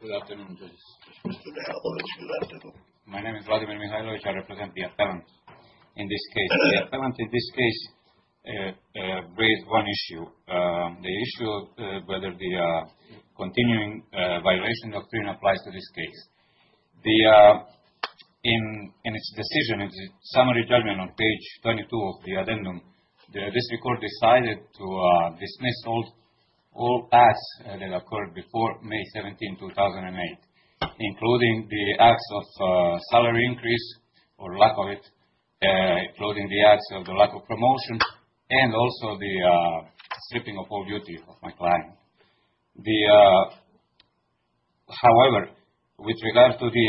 Good afternoon, judges. My name is Vladimir Mikhailovich. I represent the appellant in this case. The appellant in this case raised one issue. The issue of whether the continuing violation doctrine applies to this case. In its decision, in the summary judgment on page 22 of the addendum, the district court decided to dismiss all ads that occurred before May 17, 2008, including the ads of salary increase or lack of it, including the ads of the lack of promotion and also the stripping of all duty of my client. However, with regard to the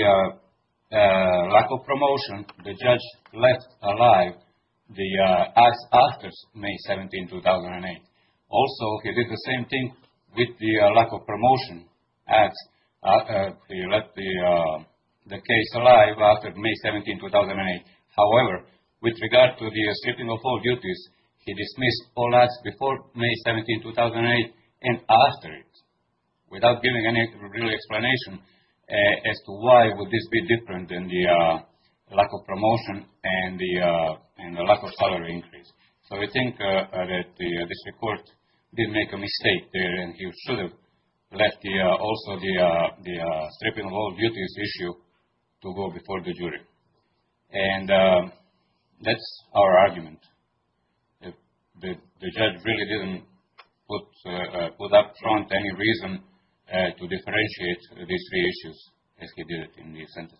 lack of promotion, the judge left alive the ads after May 17, 2008. Also, he did the same thing with the lack of promotion. He left the case alive after May 17, 2008. However, with regard to the stripping of all duties, he dismissed all ads before May 17, 2008 and after it, without giving any real explanation as to why would this be different in the lack of promotion and the lack of salary increase. So, we think that the district court did make a mistake there, and he should have left also the stripping of all duties issue to go before the jury. And that's our argument. The judge really didn't put up front any reason to differentiate these three issues, as he did in his sentence.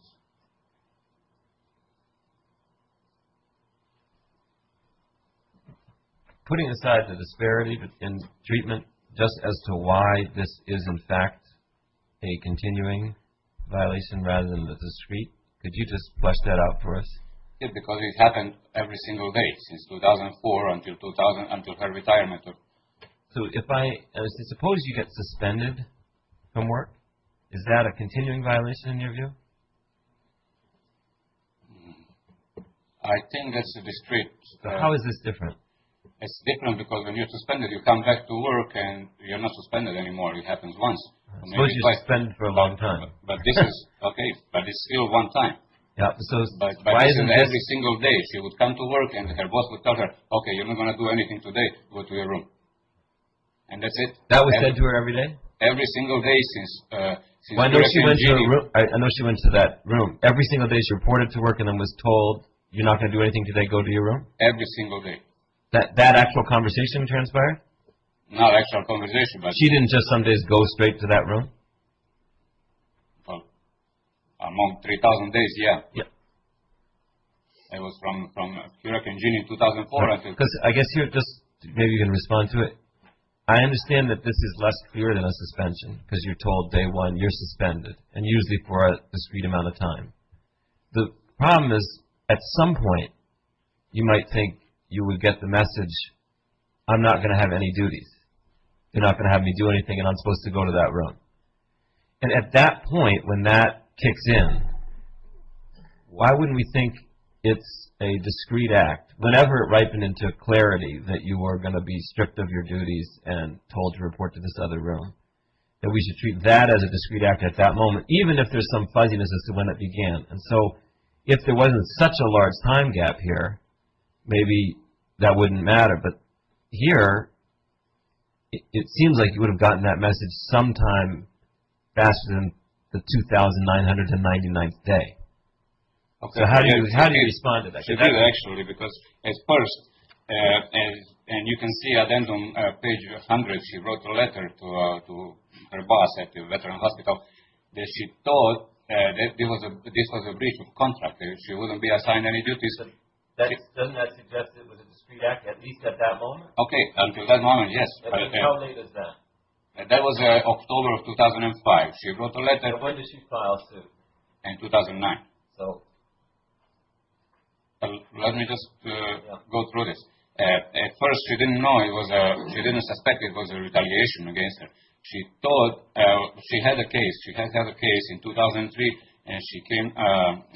Putting aside the disparity in treatment, just as to why this is, in fact, a continuing violation rather than a discrete, could you just flesh that out for us? Yes, because it happened every single day since 2004 until her retirement. So, suppose you get suspended from work, is that a continuing violation in your view? I think that's a discrete. How is this different? It's different because when you're suspended, you come back to work and you're not suspended anymore. It happens once. Suppose you're suspended for a long time. Okay, but it's still one time. But every single day she would come to work and her boss would tell her, okay, you're not going to do anything today, go to your room. And that's it. That was said to her every day? Every single day since. I know she went to that room. Every single day she reported to work and then was told, you're not going to do anything today, go to your room? Every single day. That actual conversation transpired? Not actual conversation, but... She didn't just some days go straight to that room? Among 3,000 days, yeah. Yeah. It was from European Union 2004, I think. I guess here, just maybe you can respond to it. I understand that this is less clear than a suspension because you're told day one, you're suspended, and usually for a discrete amount of time. The problem is, at some point, you might think you would get the message, I'm not going to have any duties. You're not going to have me do anything and I'm supposed to go to that room. And at that point, when that kicks in, why wouldn't we think it's a discrete act? Whenever it ripened into clarity that you were going to be stripped of your duties and told to report to this other room, that we should treat that as a discrete act at that moment, even if there's some fuzziness as to when it began. And so, if there wasn't such a large time gap here, maybe that wouldn't matter. But here, it seems like you would have gotten that message sometime faster than the 2,900th and 99th day. So, how do you respond to that? Actually, because at first, and you can see at the end on page 100, she wrote a letter to her boss at the Veteran's Hospital that she thought this was a breach of contract. She wouldn't be assigned any duties. Doesn't that suggest it was a discrete act, at least at that moment? Okay, at that moment, yes. And how late is that? That was October of 2005. She wrote a letter... And when did she file suit? In 2009. So... Let me just go through this. At first, she didn't know. She didn't suspect it was a retaliation against her. She had a case. She had a case in 2003, and she came,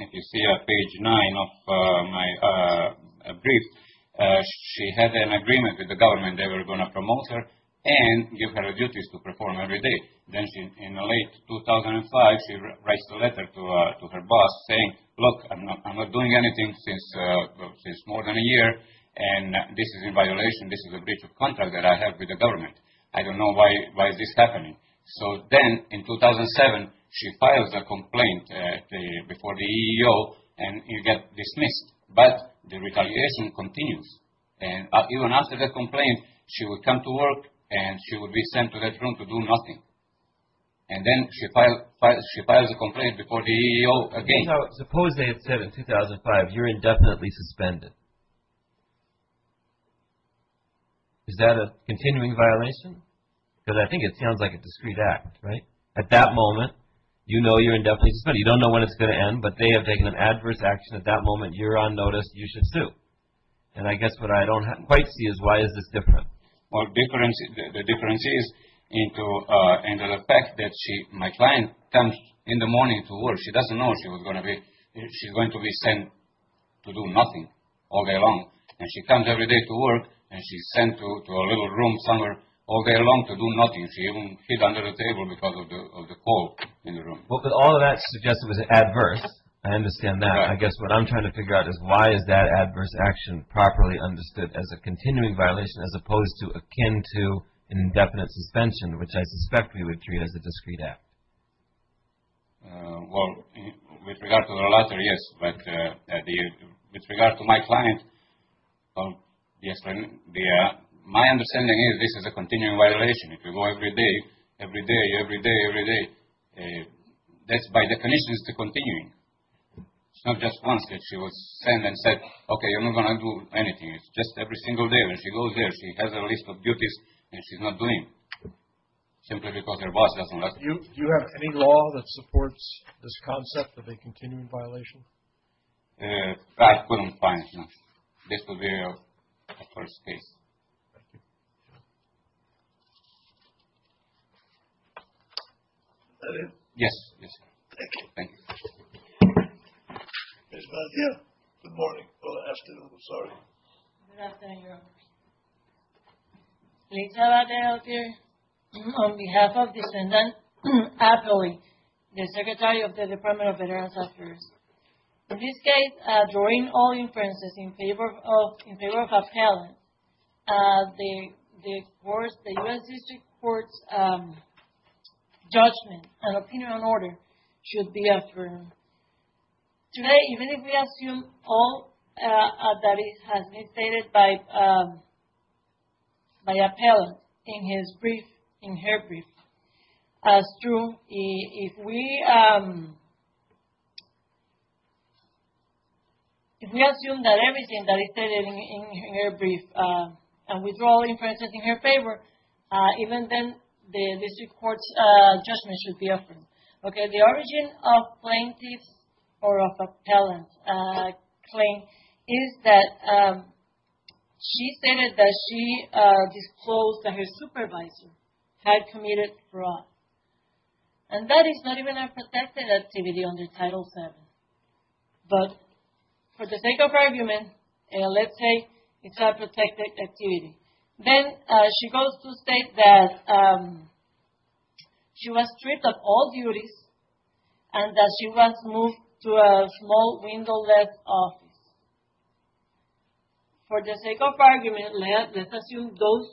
if you see on page 9 of my brief, she had an agreement with the government they were going to promote her and give her duties to perform every day. Then, in late 2005, she writes a letter to her boss saying, look, I'm not doing anything since more than a year, and this is in violation. This is a breach of contract that I have with the government. I don't know why this is happening. So then, in 2007, she files a complaint before the EEO, and you get dismissed. But the retaliation continues. And even after the complaint, she would come to work, and she would be sent to that room to do nothing. And then she files a complaint before the EEO again. Suppose they had said in 2005, you're indefinitely suspended. Is that a continuing violation? Because I think it sounds like a discreet act, right? At that moment, you know you're indefinitely suspended. You don't know when it's going to end, but they have taken an adverse action at that moment. You're on notice. You should sue. And I guess what I don't quite see is why is this different? Well, the difference is in the fact that my client comes in the morning to work. She doesn't know she was going to be sent to do nothing all day long. And she comes every day to work, and she's sent to a little room somewhere all day long to do nothing. She even hid under the table because of the cold in the room. Well, but all of that suggests it was adverse. I understand that. I guess what I'm trying to figure out is why is that adverse action properly understood as a continuing violation as opposed to akin to an indefinite suspension, which I suspect would treat as a discreet act? Well, with regard to the latter, yes. But with regard to my client, my understanding is this is a continuing violation. If you go every day, every day, every day, every day, that's by definition is the continuing. It's not just once that she was sent and said, okay, you're not going to do anything. It's just every single day when she goes there, she has a list of duties that she's not doing simply because her boss doesn't let her. Do you have any law that supports this concept of a continuing violation? I couldn't find one. This will be a first case. Thank you. Yes, yes. Thank you. Good afternoon. Sorry. Good afternoon, Your Honors. Lisa Valdez out here. On behalf of Descendant Apley, the Secretary of the Department of Veterans Affairs. In this case, during all inferences in favor of appellant, the U.S. District Court's judgment and opinion on order should be affirmed. Today, even if we assume all that has been stated by appellant in his brief, in her brief, as true, if we assume that everything that is stated in her brief and withdraw inferences in her favor, even then the District Court's judgment should be affirmed. Okay. The origin of plaintiff's or of appellant's claim is that she stated that she disclosed that her supervisor had committed fraud. And that is not even a protected activity under Title VII. But for the sake of argument, let's say it's a protected activity. Then she goes to state that she was stripped of all duties and that she was moved to a small windowless office. For the sake of argument, let's assume those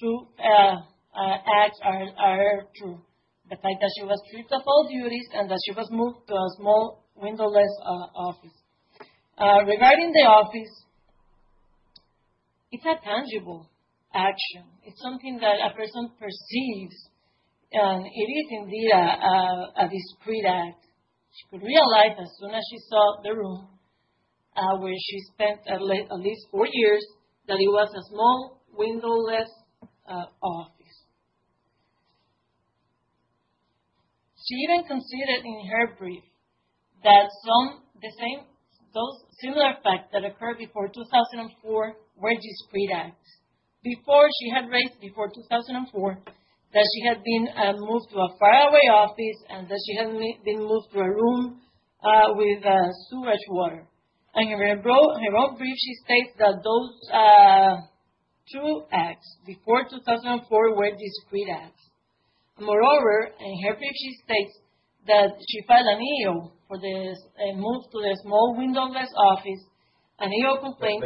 two acts are true. The fact that she was stripped of all duties and that she was moved to a small windowless office. Regarding the office, it's a tangible action. It's something that a person perceives and it is indeed a discreet act. She could realize as soon as she saw the room where she spent at least four years that it was a small windowless office. She even conceded in her brief that those similar facts that occurred before 2004 were discreet acts. Before she had raised, before 2004, that she had been moved to a faraway office and that she had been moved to a room with sewage water. In her own brief, she states that those two acts before 2004 were discreet acts. Moreover, in her brief, she states that she filed an EO for the move to a small windowless office, an EO complaint.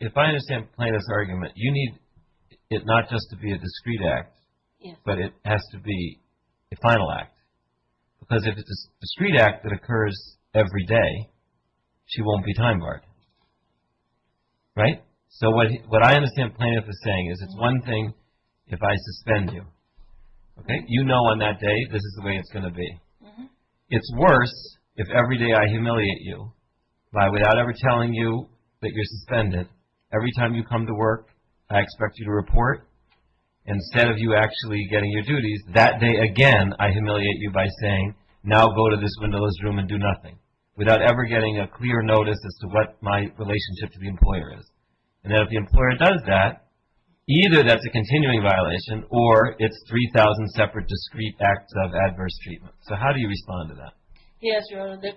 If I understand plain as argument, you need it not just to be a discreet act, but it has to be a final act. Because if it's a discreet act that occurs every day, she won't be time barred. Right? So what I understand plaintiff is saying is it's one thing if I suspend you. You know on that day this is the way it's going to be. It's worse if every day I humiliate you by without ever telling you that you're suspended. Every time you come to work, I expect you to report. Instead of you actually getting your duties, that day again I humiliate you by saying, now go to this windowless room and do nothing. Without ever getting a clear notice as to what my relationship to the employer is. And if the employer does that, either that's a continuing violation or it's 3,000 separate discreet acts of adverse treatment. So how do you respond to that? Yes, Your Honor. This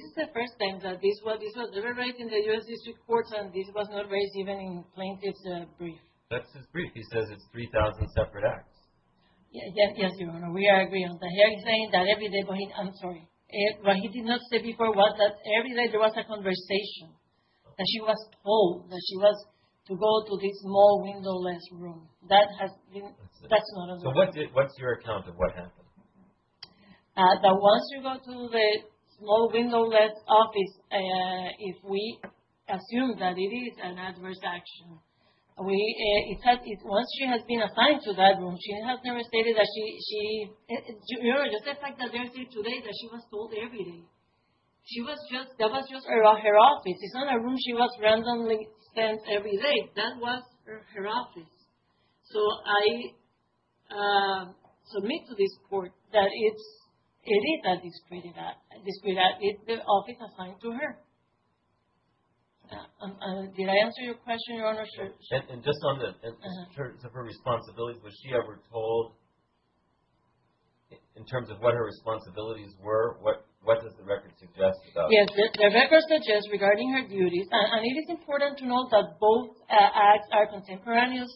is the first time that this was deliberated in the U.S. District Court and this was not raised even in plaintiff's brief. That's his brief. He says it's 3,000 separate acts. Yes, Your Honor. We agree on that. He's saying that every day, I'm sorry. What he did not say before was that every day there was a conversation. That she was told that she was to go to this small windowless room. That's not understood. So what's your account of what happened? That once you go to the small windowless office, if we assume that it is an adverse action, once she has been assigned to that room, she has never stated that she, Your Honor, just the fact that there is here today that she was told every day. She was just, that was just around her office. It's not a room she was randomly sent every day. That was her office. So I submit to this court that it is a discreet act. It's the office assigned to her. Did I answer your question, Your Honor? Sure. And just on the terms of her responsibilities, was she ever told in terms of what her responsibilities were? What does the record suggest? Yes, the record suggests regarding her duties, and it is important to note that both acts are contemporaneous.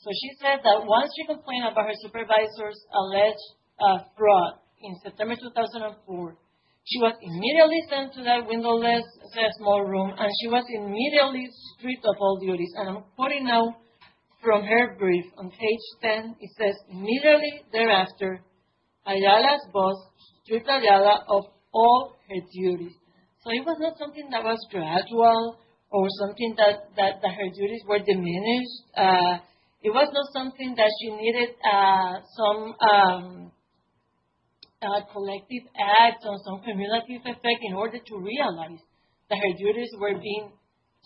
So she said that once she complained about her supervisor's alleged fraud in September 2004, she was immediately sent to that windowless small room, and she was immediately stripped of all duties. And I'm putting now from her brief on page 10, it says, Immediately thereafter, Ayala's boss stripped Ayala of all her duties. So it was not something that was gradual or something that her duties were diminished. It was not something that she needed some collective act or some cumulative effect in order to realize that her duties were being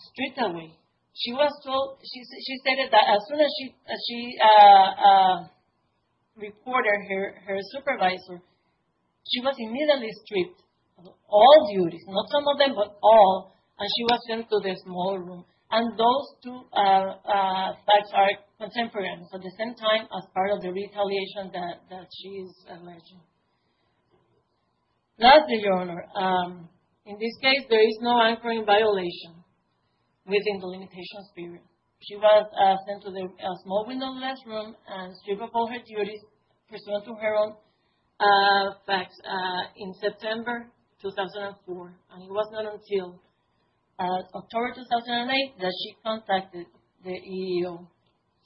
stripped away. She stated that as soon as she reported her supervisor, she was immediately stripped of all duties, not some of them, but all, and she was sent to the small room. And those two facts are contemporaneous at the same time as part of the retaliation that she is alleging. Lastly, Your Honor, in this case, there is no anchoring violation within the limitation spirit. She was sent to the small windowless room and stripped of all her duties pursuant to her own facts in September 2004, and it was not until October 2008 that she contacted the EEO.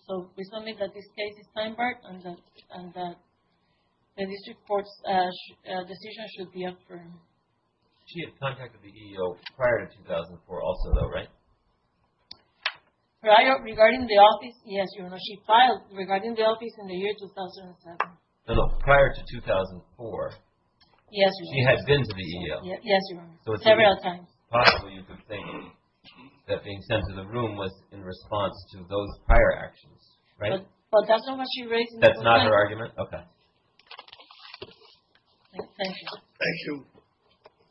So we submit that this case is time-barred and that the district court's decision should be affirmed. She had contacted the EEO prior to 2004 also, though, right? Regarding the office, yes, Your Honor, she filed regarding the office in the year 2007. No, no, prior to 2004. Yes, Your Honor. She had been to the EEO. Yes, Your Honor, several times. Possibly you could think that being sent to the room was in response to those prior actions, right? But that's not what she raised. That's not her argument? Okay. Thank you. Thank you.